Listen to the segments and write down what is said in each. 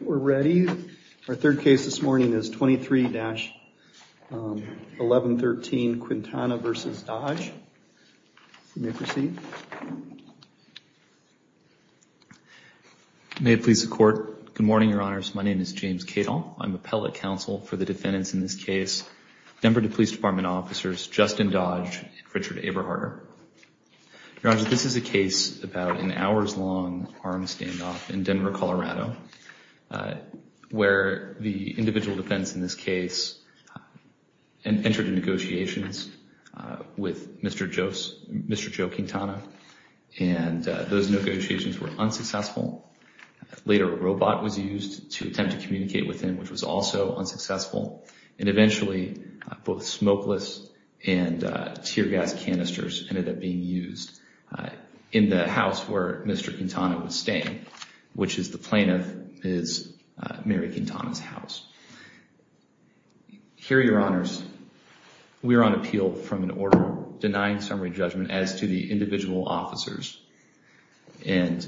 We're ready. Our third case this morning is 23-1113, Quintana v. Dodge. If you may proceed. May it please the Court. Good morning, Your Honors. My name is James Cato. I'm appellate counsel for the defendants in this case, Denver Police Department officers Justin Dodge and Richard Eberharder. Your Honors, this is a case about an hours-long armed standoff in Denver, Colorado, where the individual defense in this case entered into negotiations with Mr. Joe Quintana. And those negotiations were unsuccessful. Later, a robot was used to attempt to communicate with him, which was also unsuccessful. And eventually, both smokeless and tear gas canisters ended up being used in the house where Mr. Quintana was staying, which is the plaintiff's, Mary Quintana's, house. Here, Your Honors, we are on appeal from an order denying summary judgment as to the individual officers. And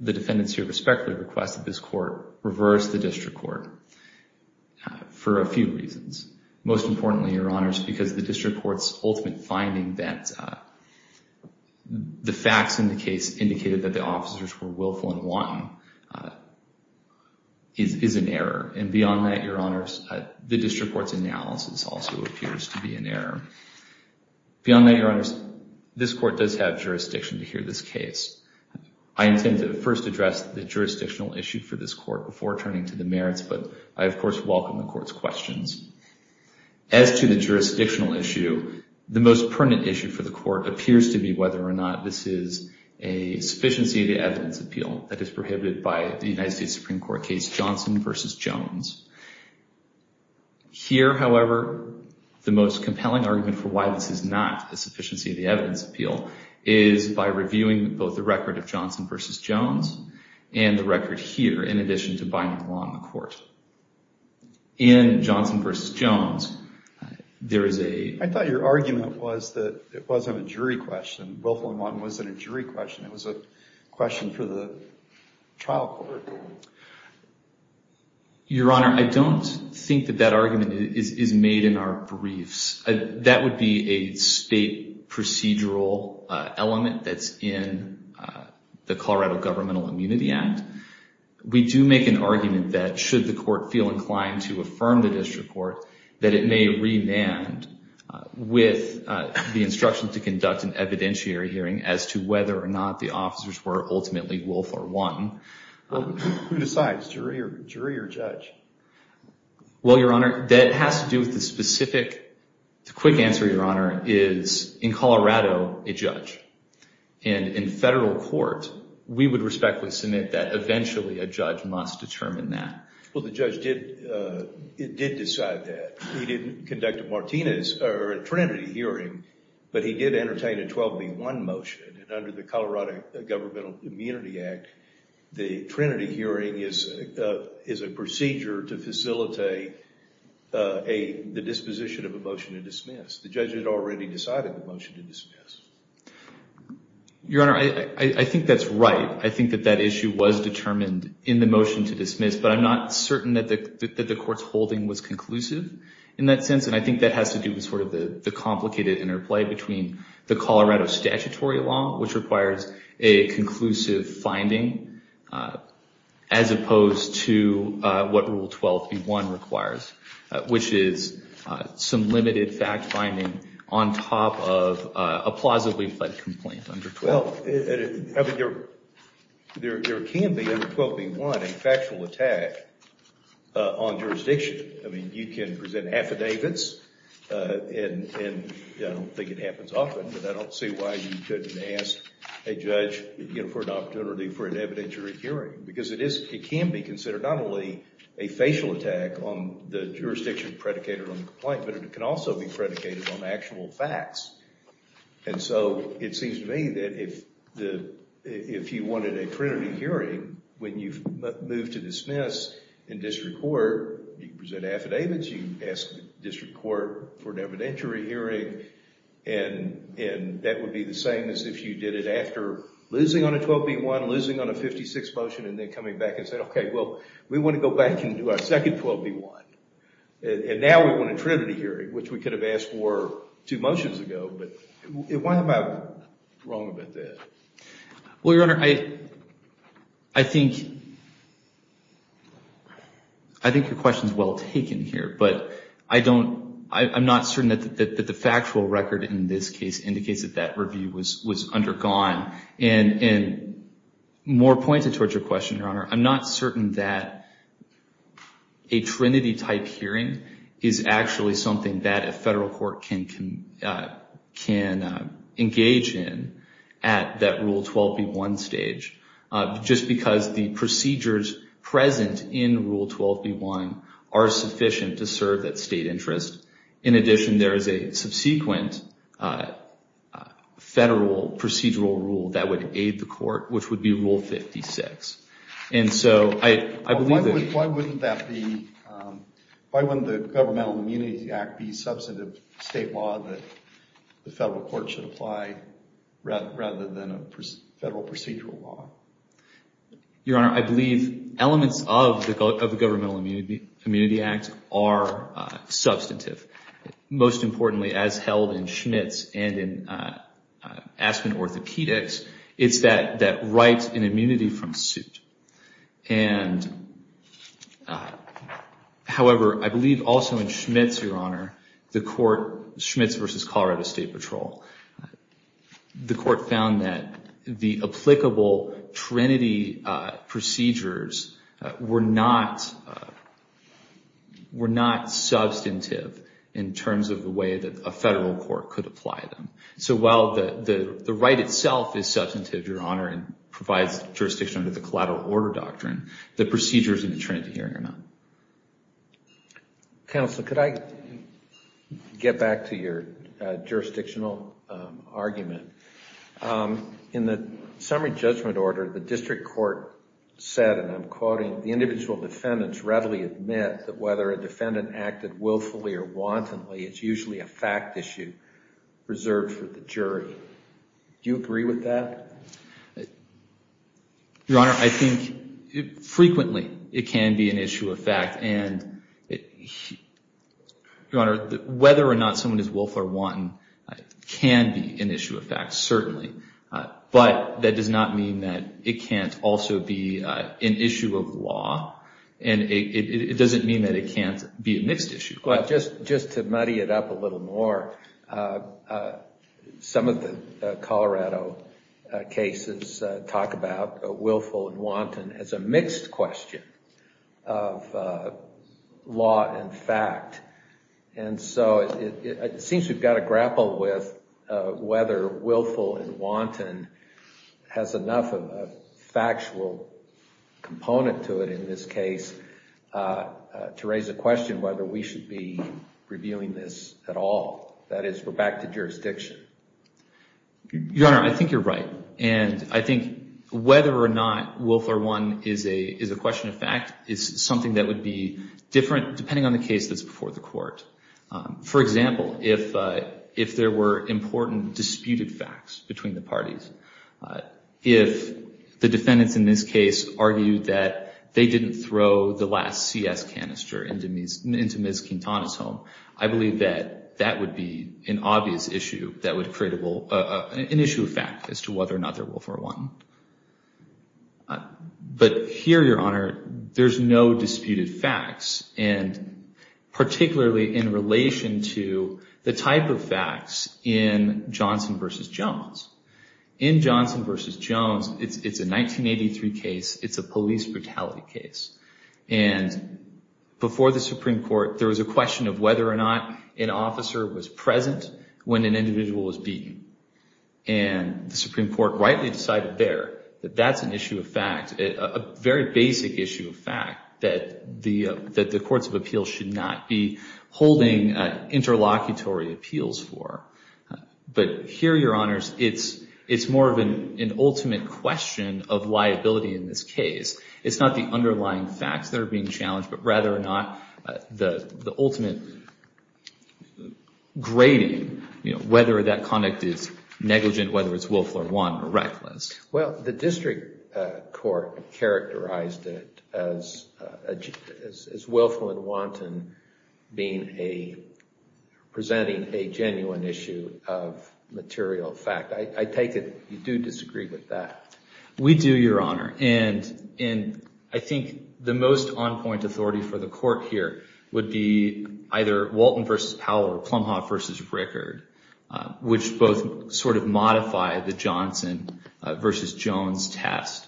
the defendants here respectfully request that this Court reverse the district court for a few reasons. Most importantly, Your Honors, because the district court's ultimate finding that the facts in the case indicated that the officers were willful and wanton is an error. And beyond that, Your Honors, the district court's analysis also appears to be an error. Beyond that, Your Honors, this Court does have jurisdiction to hear this case. I intend to first address the jurisdictional issue for this Court before turning to the merits, but I, of course, welcome the Court's questions. As to the jurisdictional issue, the most pertinent issue for the Court appears to be whether or not this is a sufficiency of the evidence appeal that is prohibited by the United States Supreme Court case Johnson v. Jones. Here, however, the most compelling argument for why this is not a sufficiency of the evidence appeal is by reviewing both the record of Johnson v. Jones and the record here in addition to binding law in the Court. In Johnson v. Jones, there is a... I thought your argument was that it wasn't a jury question. Willful and wanton wasn't a jury question. It was a question for the trial court. Your Honor, I don't think that that argument is made in our briefs. That would be a state procedural element that's in the Colorado Governmental Immunity Act. We do make an argument that should the Court feel inclined to affirm the district court, that it may remand with the instruction to conduct an evidentiary hearing as to whether or not the officers were ultimately willful or wanton. Who decides, jury or judge? Well, Your Honor, that has to do with the specific... The quick answer, Your Honor, is in Colorado, a judge. And in federal court, we would respectfully submit that eventually a judge must determine that. Well, the judge did decide that. He didn't conduct a Martinez or a Trinity hearing, but he did entertain a 12B1 motion. And under the Colorado Governmental Immunity Act, the Trinity hearing is a procedure to facilitate the disposition of a motion to dismiss. The judge had already decided the motion to dismiss. Your Honor, I think that's right. I think that that issue was determined in the motion to dismiss, but I'm not certain that the Court's holding was conclusive in that sense. And I think that has to do with sort of the complicated interplay between the Colorado statutory law, which requires a conclusive finding as opposed to what Rule 12B1 requires, which is some limited fact finding on top of a plausibly fled complaint under 12. Well, there can be under 12B1 a factual attack on jurisdiction. I mean, you can present affidavits, and I don't think it happens often, but I don't see why you couldn't ask a judge for an opportunity for an evidentiary hearing. Because it can be considered not only a facial attack on the jurisdiction predicated on the complaint, but it can also be predicated on actual facts. And so it seems to me that if you wanted a Trinity hearing, when you move to dismiss in district court, you present affidavits, you ask the district court for an evidentiary hearing, and that would be the same as if you did it after losing on a 12B1, losing on a 56 motion, and then coming back and saying, okay, well, we want to go back and do our second 12B1. And now we want a Trinity hearing, which we could have asked for two motions ago, but why am I wrong about that? Well, Your Honor, I think your question is well taken here, but I'm not certain that the factual record in this case indicates that that review was undergone. And more pointed towards your question, Your Honor, I'm not certain that a Trinity-type hearing is actually something that a federal court can engage in at that Rule 12B1 stage, just because the procedures present in Rule 12B1 are sufficient to serve that state interest. In addition, there is a subsequent federal procedural rule that would aid the court, which would be Rule 56. And so I believe that... Why wouldn't the Governmental Immunity Act be substantive state law that the federal court should apply rather than a federal procedural law? Your Honor, I believe elements of the Governmental Immunity Act are substantive. Most importantly, as held in Schmitz and in Aspen Orthopedics, it's that right in immunity from suit. And however, I believe also in Schmitz, Your Honor, the court, Schmitz v. Colorado State Patrol, the court found that the applicable Trinity procedures were not substantive in terms of the way that a federal court could apply them. So while the right itself is substantive, Your Honor, and provides jurisdiction under the collateral order doctrine, the procedures in the Trinity hearing are not. Counsel, could I get back to your jurisdictional argument? In the summary judgment order, the district court said, and I'm quoting, the individual defendants readily admit that whether a defendant acted willfully or wantonly, it's usually a fact issue reserved for the jury. Do you agree with that? Your Honor, I think frequently it can be an issue of fact, and Your Honor, whether or not someone is willful or wanton can be an issue of fact, certainly. But that does not mean that it can't also be an issue of law, and it doesn't mean that it can't be a mixed issue. Well, just to muddy it up a little more, some of the Colorado cases talk about willful and wanton as a mixed question of law and fact. And so it seems we've got to grapple with whether willful and wanton has enough of a factual component to it in this case to raise a question whether we should be reviewing this at all. That is, we're back to jurisdiction. Your Honor, I think you're right. And I think whether or not willful or wanton is a question of fact is something that would be different depending on the case that's before the court. For example, if there were important disputed facts between the parties, if the defendants in this case argued that they didn't throw the last CS canister into Ms. Quintana's home, I believe that that would be an obvious issue that would create an issue of fact as to whether or not they're willful or wanton. But here, Your Honor, there's no disputed facts, and particularly in relation to the type of facts in Johnson v. Jones. In Johnson v. Jones, it's a 1983 case. It's a police brutality case. And before the Supreme Court, there was a question of whether or not an officer was present when an individual was beaten. And the Supreme Court rightly decided there that that's an issue of fact, a very basic issue of fact that the courts of appeals should not be holding interlocutory appeals for. But here, Your Honors, it's more of an ultimate question of liability in this case. It's not the underlying facts that are being challenged, but rather or not the ultimate grading, whether that conduct is negligent, whether it's willful or wanton or reckless. Well, the district court characterized it as willful and wanton presenting a genuine issue of material fact. I take it you do disagree with that. We do, Your Honor. And I think the most on-point authority for the court here would be either Walton v. Powell or Plumhoff v. Rickard, which both sort of modify the Johnson v. Jones test.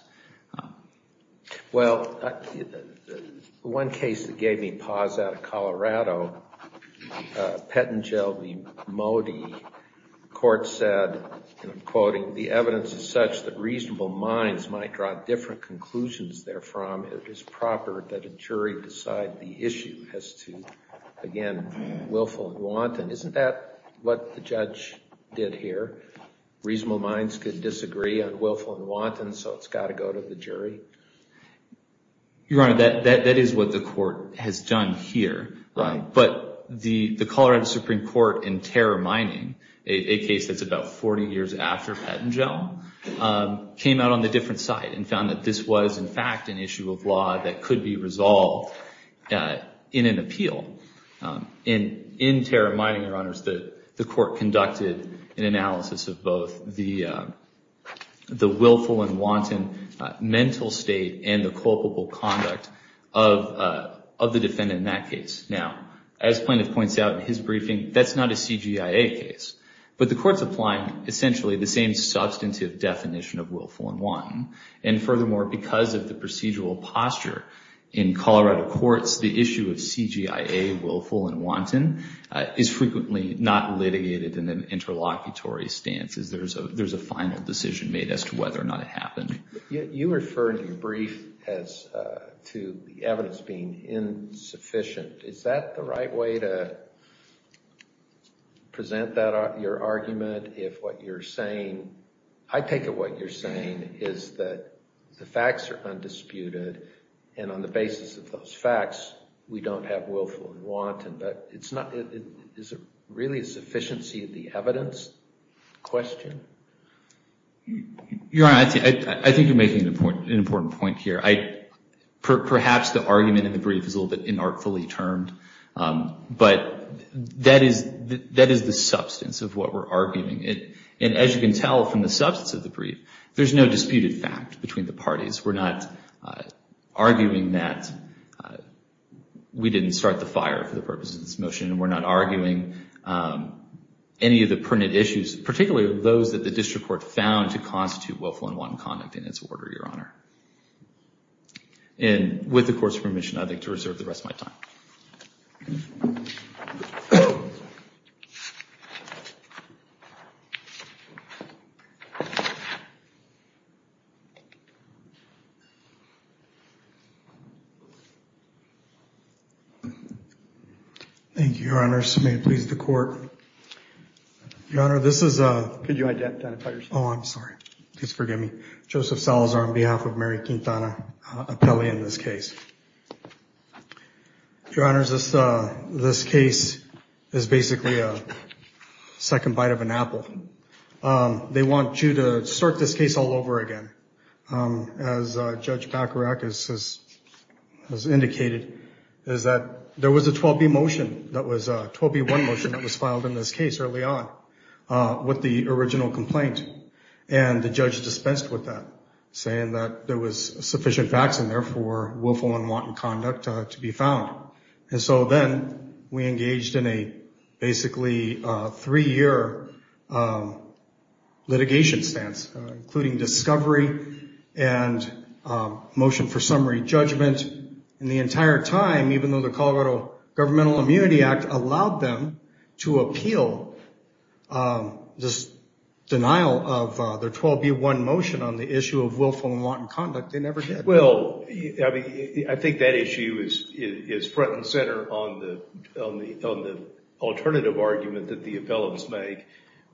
Well, one case that gave me pause out of Colorado, Pettengill v. Modi, the court said, and I'm quoting, the evidence is such that reasonable minds might draw different conclusions therefrom. It is proper that a jury decide the issue as to, again, willful and wanton. Isn't that what the judge did here? Reasonable minds could disagree on willful and wanton, so it's got to go to the jury? Your Honor, that is what the court has done here. But the Colorado Supreme Court in terror mining, a case that's about 40 years after Pettengill, came out on the different side and found that this was, in fact, an issue of law that could be resolved in an appeal. In terror mining, Your Honors, the court conducted an analysis of both the willful and wanton mental state and the culpable conduct of the defendant in that case. Now, as Plaintiff points out in his briefing, that's not a CGIA case, but the court's applying essentially the same substantive definition of willful and wanton. And furthermore, because of the procedural posture in Colorado courts, the issue of CGIA, willful and wanton, is frequently not litigated in an interlocutory stance. There's a final decision made as to whether or not it happened. You referred to your brief as to the evidence being insufficient. Is that the right way to present your argument if what you're saying, I take it what you're saying is that the facts are undisputed, and on the basis of those facts, we don't have willful and wanton, but is it really a sufficiency of the evidence question? Your Honor, I think you're making an important point here. Perhaps the argument in the brief is a little bit inartfully termed, but that is the substance of what we're arguing. And as you can tell from the substance of the brief, there's no disputed fact between the parties. We're not arguing that we didn't start the fire for the purposes of this motion, and we're not arguing any of the printed issues, particularly those that the district court found to constitute willful and wanton conduct in its order, Your Honor. And with the Court's permission, I'd like to reserve the rest of my time. Thank you, Your Honor. May it please the Court. Your Honor, this is... Could you identify yourself? Oh, I'm sorry. Please forgive me. Joseph Salazar on behalf of Mary Quintana Apelli in this case. Your Honor, this case is basically a second bite of an apple. They want you to start this case all over again. As Judge Bacharach has indicated, is that there was a 12B motion that was a 12B1 motion that was filed in this case early on with the original complaint, and the judge dispensed with that, saying that there was sufficient facts in there for willful and wanton conduct to be found. And so then we engaged in a basically three-year litigation stance, including discovery and motion for summary judgment, and the entire time, even though the Colorado Governmental Immunity Act allowed them to appeal this denial of their 12B1 motion on the issue of willful and wanton conduct, they never did. Well, I think that issue is front and center on the alternative argument that the appellants make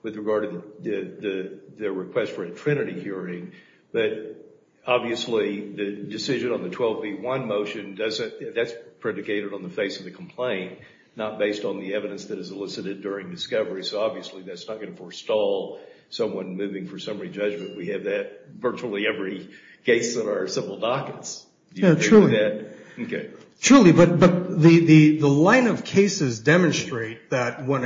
with regard to their request for a trinity hearing, but obviously the decision on the 12B1 motion, that's predicated on the face of the complaint, not based on the evidence that is elicited during discovery. So obviously that's not going to forestall someone moving for summary judgment. We have that virtually every case that are civil dockets. Truly, but the line of cases demonstrate that when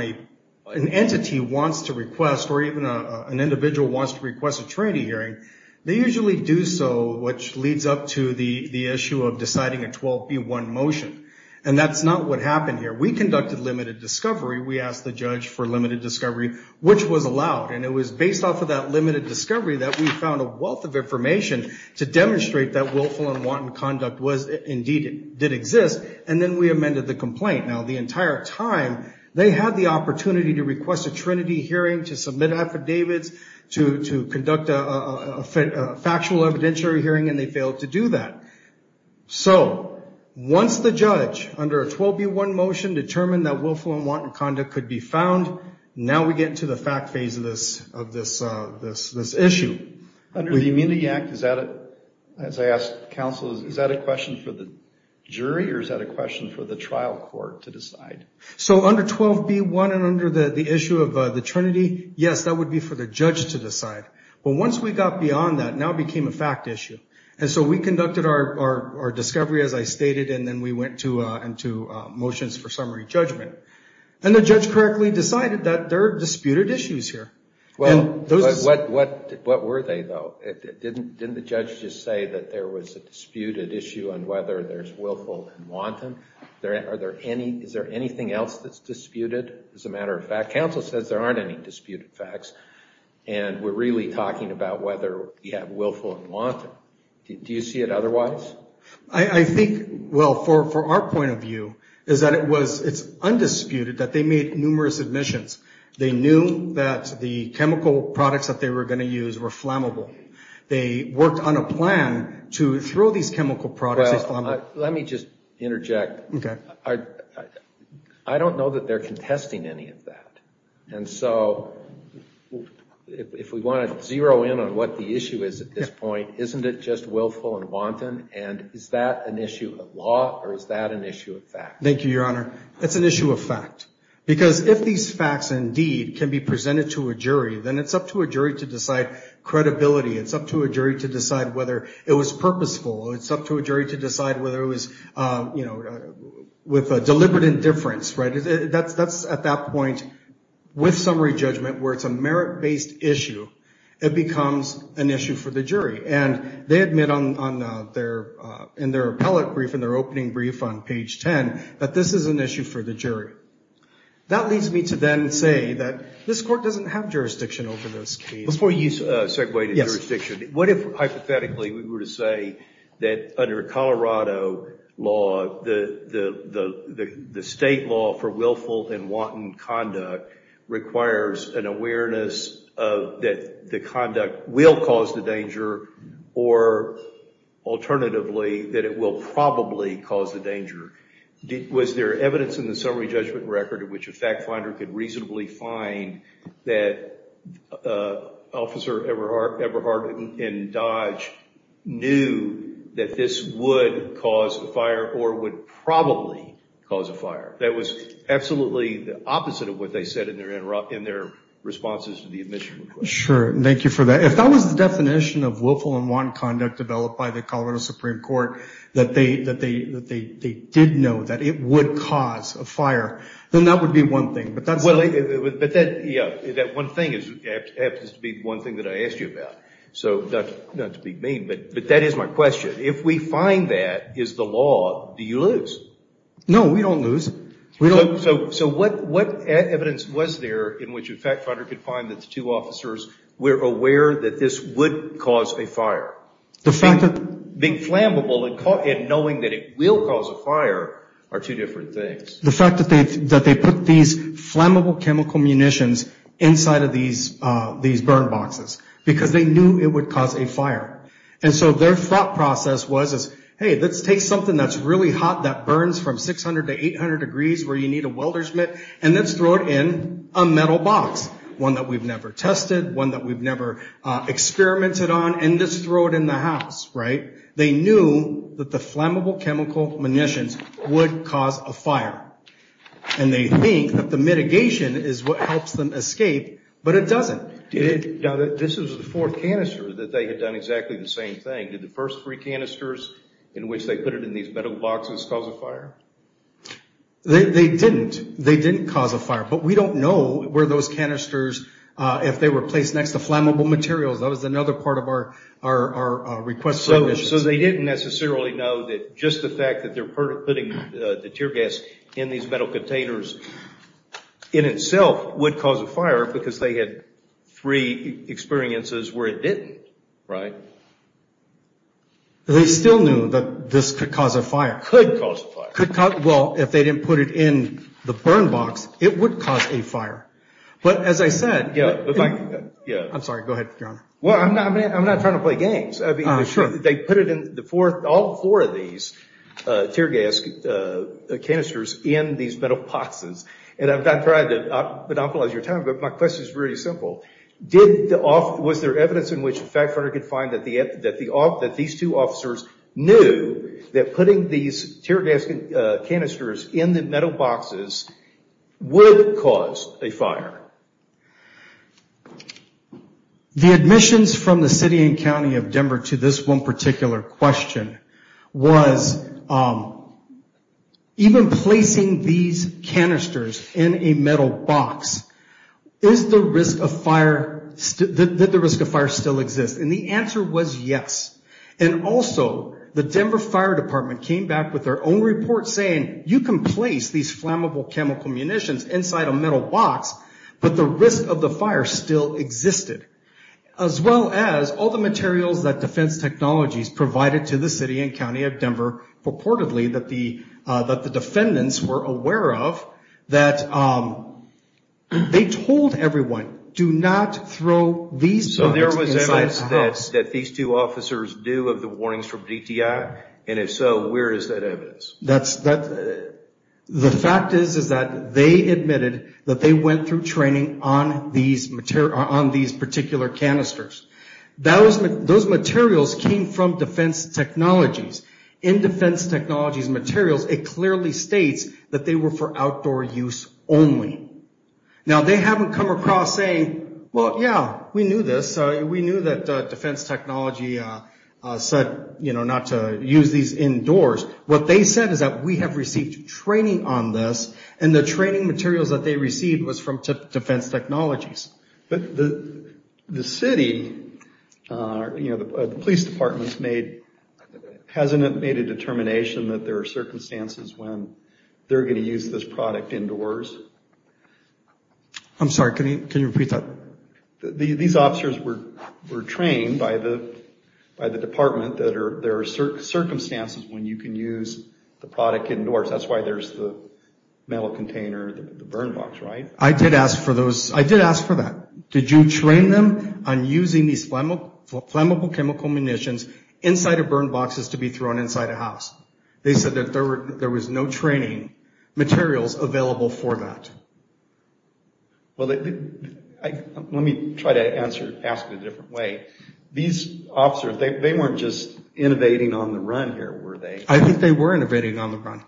an entity wants to request, or even an individual wants to request a trinity hearing, they usually do so, which leads up to the issue of deciding a 12B1 motion, and that's not what happened here. We conducted limited discovery. We asked the judge for limited discovery, which was allowed, and it was based off of that limited discovery that we found a wealth of information to demonstrate that willful and wanton conduct indeed did exist, and then we amended the complaint. Now the entire time they had the opportunity to request a trinity hearing, to submit affidavits, to conduct a factual evidentiary hearing, and they failed to do that. So once the judge, under a 12B1 motion, determined that willful and wanton conduct could be found, now we get into the fact phase of this issue. Under the Immunity Act, as I asked counsel, is that a question for the jury or is that a question for the trial court to decide? So under 12B1 and under the issue of the trinity, yes, that would be for the judge to decide. But once we got beyond that, now it became a fact issue. And so we conducted our discovery, as I stated, and then we went into motions for summary judgment. And the judge correctly decided that there are disputed issues here. What were they, though? Didn't the judge just say that there was a disputed issue on whether there's willful and wanton? Is there anything else that's disputed as a matter of fact? Counsel says there aren't any disputed facts, and we're really talking about whether you have willful and wanton. Do you see it otherwise? I think, well, for our point of view, is that it's undisputed that they made numerous admissions. They knew that the chemical products that they were going to use were flammable. They worked on a plan to throw these chemical products at flammable. Well, let me just interject. Okay. I don't know that they're contesting any of that. And so if we want to zero in on what the issue is at this point, isn't it just willful and wanton? And is that an issue of law or is that an issue of fact? Thank you, Your Honor. It's an issue of fact. Because if these facts, indeed, can be presented to a jury, then it's up to a jury to decide credibility. It's up to a jury to decide whether it was purposeful. It's up to a jury to decide whether it was with deliberate indifference. That's at that point, with summary judgment, where it's a merit-based issue, it becomes an issue for the jury. And they admit in their appellate brief, in their opening brief on page 10, that this is an issue for the jury. That leads me to then say that this court doesn't have jurisdiction over this case. Before you segue to jurisdiction, what if, hypothetically, we were to say that under Colorado law, the state law for willful and wanton conduct requires an awareness that the conduct will cause the danger or, alternatively, that it will probably cause the danger. Was there evidence in the summary judgment record in which a fact finder could reasonably find that Officer Eberhardt and Dodge knew that this would cause a fire or would probably cause a fire? That was absolutely the opposite of what they said in their responses to the admission request. Sure. Thank you for that. If that was the definition of willful and wanton conduct developed by the Supreme Court, that they did know that it would cause a fire, then that would be one thing. But that one thing happens to be one thing that I asked you about. Not to be mean, but that is my question. If we find that is the law, do you lose? No, we don't lose. So what evidence was there in which a fact finder could find that the two officers were aware that this would cause a fire? Being flammable and knowing that it will cause a fire are two different things. The fact that they put these flammable chemical munitions inside of these burn boxes because they knew it would cause a fire. And so their thought process was, hey, let's take something that's really hot that burns from 600 to 800 degrees where you need a welder's mitt, and let's throw it in a metal box, one that we've never tested, one that we've never experimented on, and just throw it in the house, right? They knew that the flammable chemical munitions would cause a fire. And they think that the mitigation is what helps them escape, but it doesn't. Now, this is the fourth canister that they had done exactly the same thing. Did the first three canisters in which they put it in these metal boxes cause a fire? They didn't. They didn't cause a fire. But we don't know where those canisters, if they were placed next to flammable materials. That was another part of our request for admissions. So they didn't necessarily know that just the fact that they're putting the tear gas in these metal containers in itself would cause a fire because they had three experiences where it didn't, right? They still knew that this could cause a fire. Could cause a fire. Well, if they didn't put it in the burn box, it would cause a fire. I'm sorry. Go ahead, Your Honor. Well, I'm not trying to play games. They put all four of these tear gas canisters in these metal boxes. And I've tried to monopolize your time, but my question is really simple. Was there evidence in which a fact finder could find that these two officers knew that putting these tear gas canisters in the metal boxes would cause a fire? The admissions from the city and county of Denver to this one particular question was even placing these canisters in a metal box, is the risk of fire, did the risk of fire still exist? And the answer was yes. And also the Denver Fire Department came back with their own report saying, you can place these flammable chemical munitions inside a metal box, but the risk of the fire still existed. As well as all the materials that defense technologies provided to the city and county of Denver purportedly that the defendants were aware of, that they told everyone, do not throw these inside a house. So there was evidence that these two officers knew of the warnings from DTI? And if so, where is that evidence? The fact is that they admitted that they went through training on these particular canisters. Those materials came from defense technologies. In defense technologies materials, it clearly states that they were for outdoor use only. Now they haven't come across saying, well, yeah, we knew this. We knew that defense technology said not to use these indoors. What they said is that we have received training on this, and the training materials that they received was from defense technologies. But the city, the police department hasn't made a determination that there are circumstances when they're going to use this product indoors. I'm sorry, can you repeat that? These officers were trained by the department that there are circumstances when you can use the product indoors. That's why there's the metal container, the burn box, right? I did ask for that. Did you train them on using these flammable chemical munitions inside of burn boxes to be thrown inside a house? They said that there was no training materials available for that. Well, let me try to ask it a different way. These officers, they weren't just innovating on the run here, were they? I think they were innovating on the run.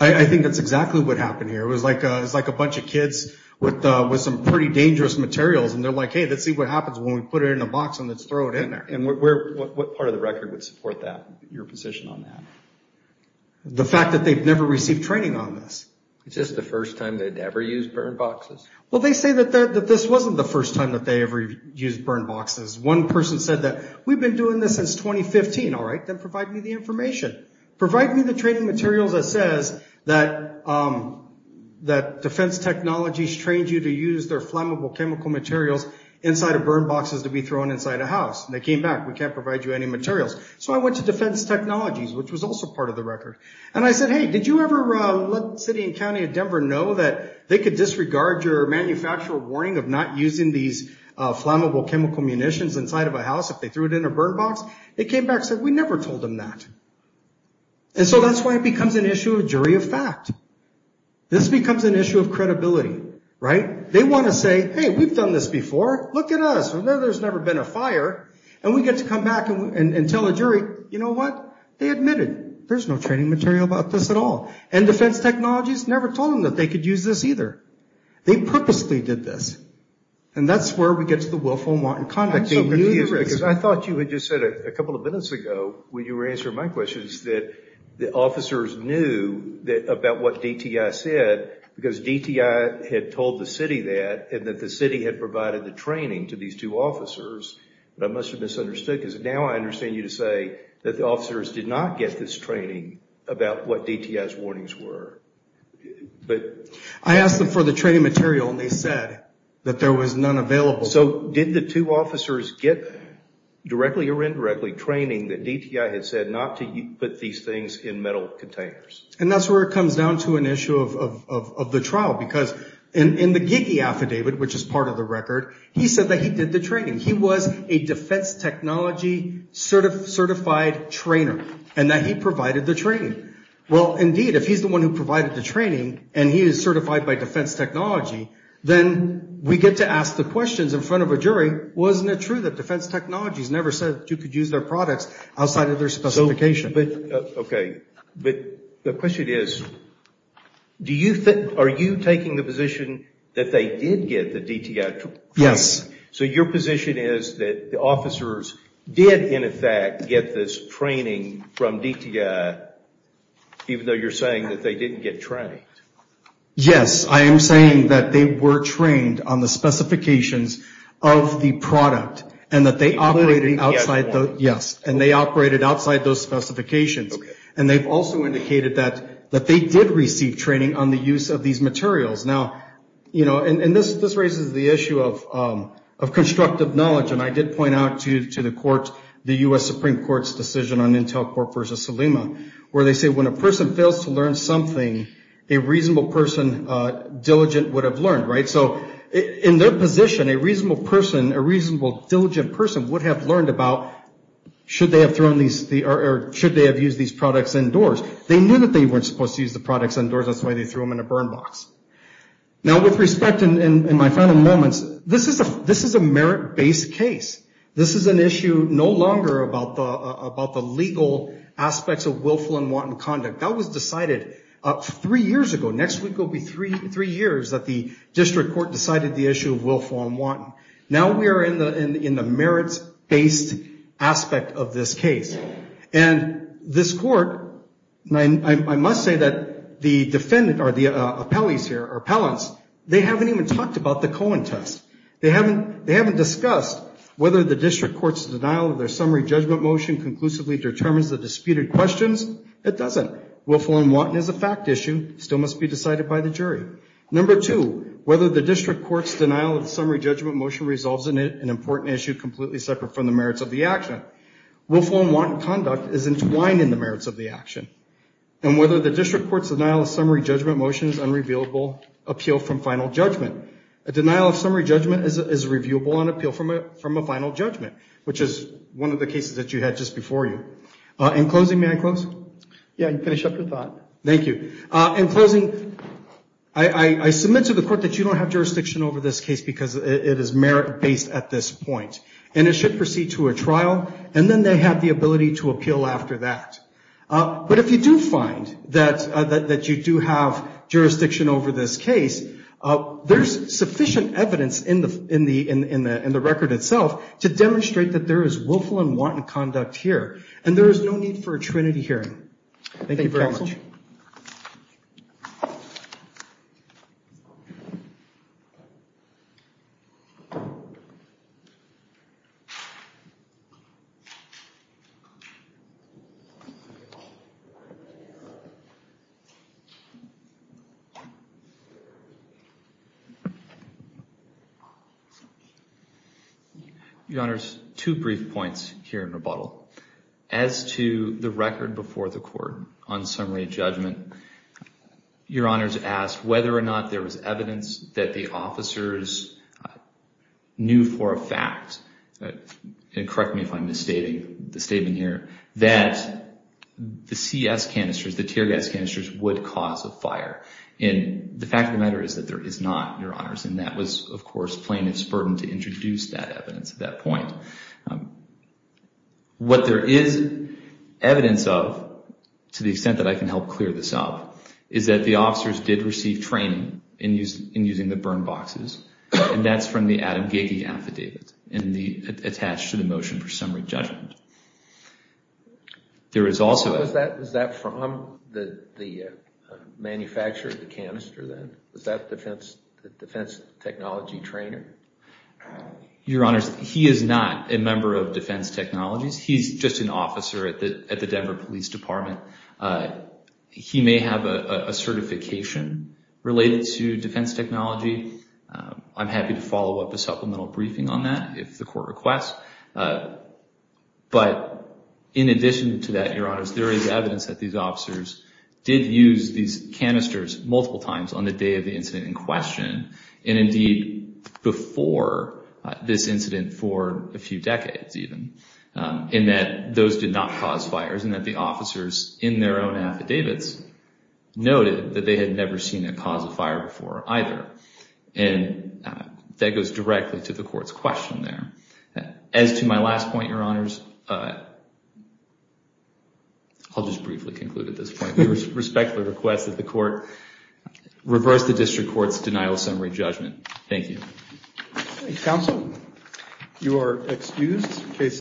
I think that's exactly what happened here. It was like a bunch of kids with some pretty dangerous materials, and they're like, hey, let's see what happens when we put it in a box and let's throw it in there. And what part of the record would support that, your position on that? The fact that they've never received training on this. Is this the first time they'd ever used burn boxes? Well, they say that this wasn't the first time that they ever used burn boxes. One person said that we've been doing this since 2015. All right, then provide me the information. Provide me the training materials that says that defense technologies trained you to use their flammable chemical materials inside of burn boxes to be thrown inside a house. And they came back, we can't provide you any materials. So I went to defense technologies, which was also part of the record. And I said, hey, did you ever let city and county of Denver know that they could disregard your manufacturer warning of not using these flammable chemical munitions inside of a house if they threw it in a burn box? They came back and said, we never told them that. And so that's why it becomes an issue of jury of fact. This becomes an issue of credibility, right? They want to say, hey, we've done this before. Look at us. There's never been a fire. And we get to come back and tell a jury, you know what? They admitted. There's no training material about this at all. And defense technologies never told them that they could use this either. They purposely did this. And that's where we get to the willful and wanton conduct. I'm so confused because I thought you had just said a couple of minutes ago when you were answering my questions that the officers knew about what DTI said because DTI had told the city that and that the city had provided the training to these two officers. But I must have misunderstood because now I understand you to say that the I asked them for the training material and they said that there was none available. So did the two officers get directly or indirectly training that DTI had said not to put these things in metal containers? And that's where it comes down to an issue of the trial. Because in the GIGI affidavit, which is part of the record, he said that he did the training. He was a defense technology certified trainer and that he provided the training. Well, indeed, if he's the one who provided the training and he is certified by defense technology, then we get to ask the questions in front of a jury, wasn't it true that defense technologies never said that you could use their products outside of their specification? Okay. But the question is, are you taking the position that they did get the DTI training? Yes. So your position is that the officers did, in effect, get this training from DTI even though you're saying that they didn't get trained? Yes. I am saying that they were trained on the specifications of the product and that they operated outside those. Yes. And they operated outside those specifications. And they've also indicated that they did receive training on the use of these materials. Now, you know, and this raises the issue of constructive knowledge. And I did point out to the court the U.S. Supreme Court's decision on Intel Corp versus Salima where they say when a person fails to learn something, a reasonable person, diligent, would have learned, right? So in their position, a reasonable person, a reasonable diligent person would have learned about should they have used these products indoors. They knew that they weren't supposed to use the products indoors. That's why they threw them in a burn box. Now, with respect, in my final moments, this is a merit-based case. This is an issue no longer about the legal aspects of willful and wanton conduct. That was decided three years ago. Next week will be three years that the district court decided the issue of willful and wanton. Now we are in the merits-based aspect of this case. And this court, and I must say that the defendant, or the appellees here, or appellants, they haven't even talked about the Cohen test. They haven't discussed whether the district court's denial of their summary judgment motion conclusively determines the disputed questions. It doesn't. Willful and wanton is a fact issue. It still must be decided by the jury. Number two, whether the district court's denial of the summary judgment motion resolves an important issue completely separate from the merits of the action. Willful and wanton conduct is entwined in the merits of the action. And whether the district court's denial of summary judgment motion is unrevealable, appeal from final judgment. A denial of summary judgment is reviewable on appeal from a final judgment, which is one of the cases that you had just before you. In closing, may I close? Yeah, you can finish up your thought. Thank you. In closing, I submit to the court that you don't have jurisdiction over this case because it is merit-based at this point. And it should proceed to a trial, and then they have the ability to appeal after that. But if you do find that you do have jurisdiction over this case, there's sufficient evidence in the record itself to demonstrate that there is willful and wanton conduct here. And there is no need for a trinity hearing. Thank you very much. Thank you, counsel. Your Honor, two brief points here in rebuttal. As to the record before the court on summary judgment, Your Honor's asked whether or not there was evidence that the officers knew I think that's a good question. Correct me if I'm misstating the statement here, that the CS canisters, the tear gas canisters, would cause a fire. And the fact of the matter is that there is not, Your Honors, and that was, of course, plaintiff's burden to introduce that evidence at that point. What there is evidence of, to the extent that I can help clear this up, is that the officers did receive training in using the burn boxes, and that's from the Adam Gage affidavit attached to the motion for summary judgment. Was that from the manufacturer of the canister then? Was that the defense technology trainer? Your Honors, he is not a member of defense technologies. He's just an officer at the Denver Police Department. He may have a certification related to defense technology. I'm happy to follow up a supplemental briefing on that if the court requests. But in addition to that, Your Honors, there is evidence that these officers did use these canisters multiple times on the day of the incident in question, and indeed before this incident for a few decades even, in that those did not cause fires, and that the officers in their own affidavits noted that they had never seen a cause of fire before either. And that goes directly to the court's question there. As to my last point, Your Honors, I'll just briefly conclude at this point. We respectfully request that the court reverse the district court's denial of summary judgment. Thank you. Counsel, you are excused.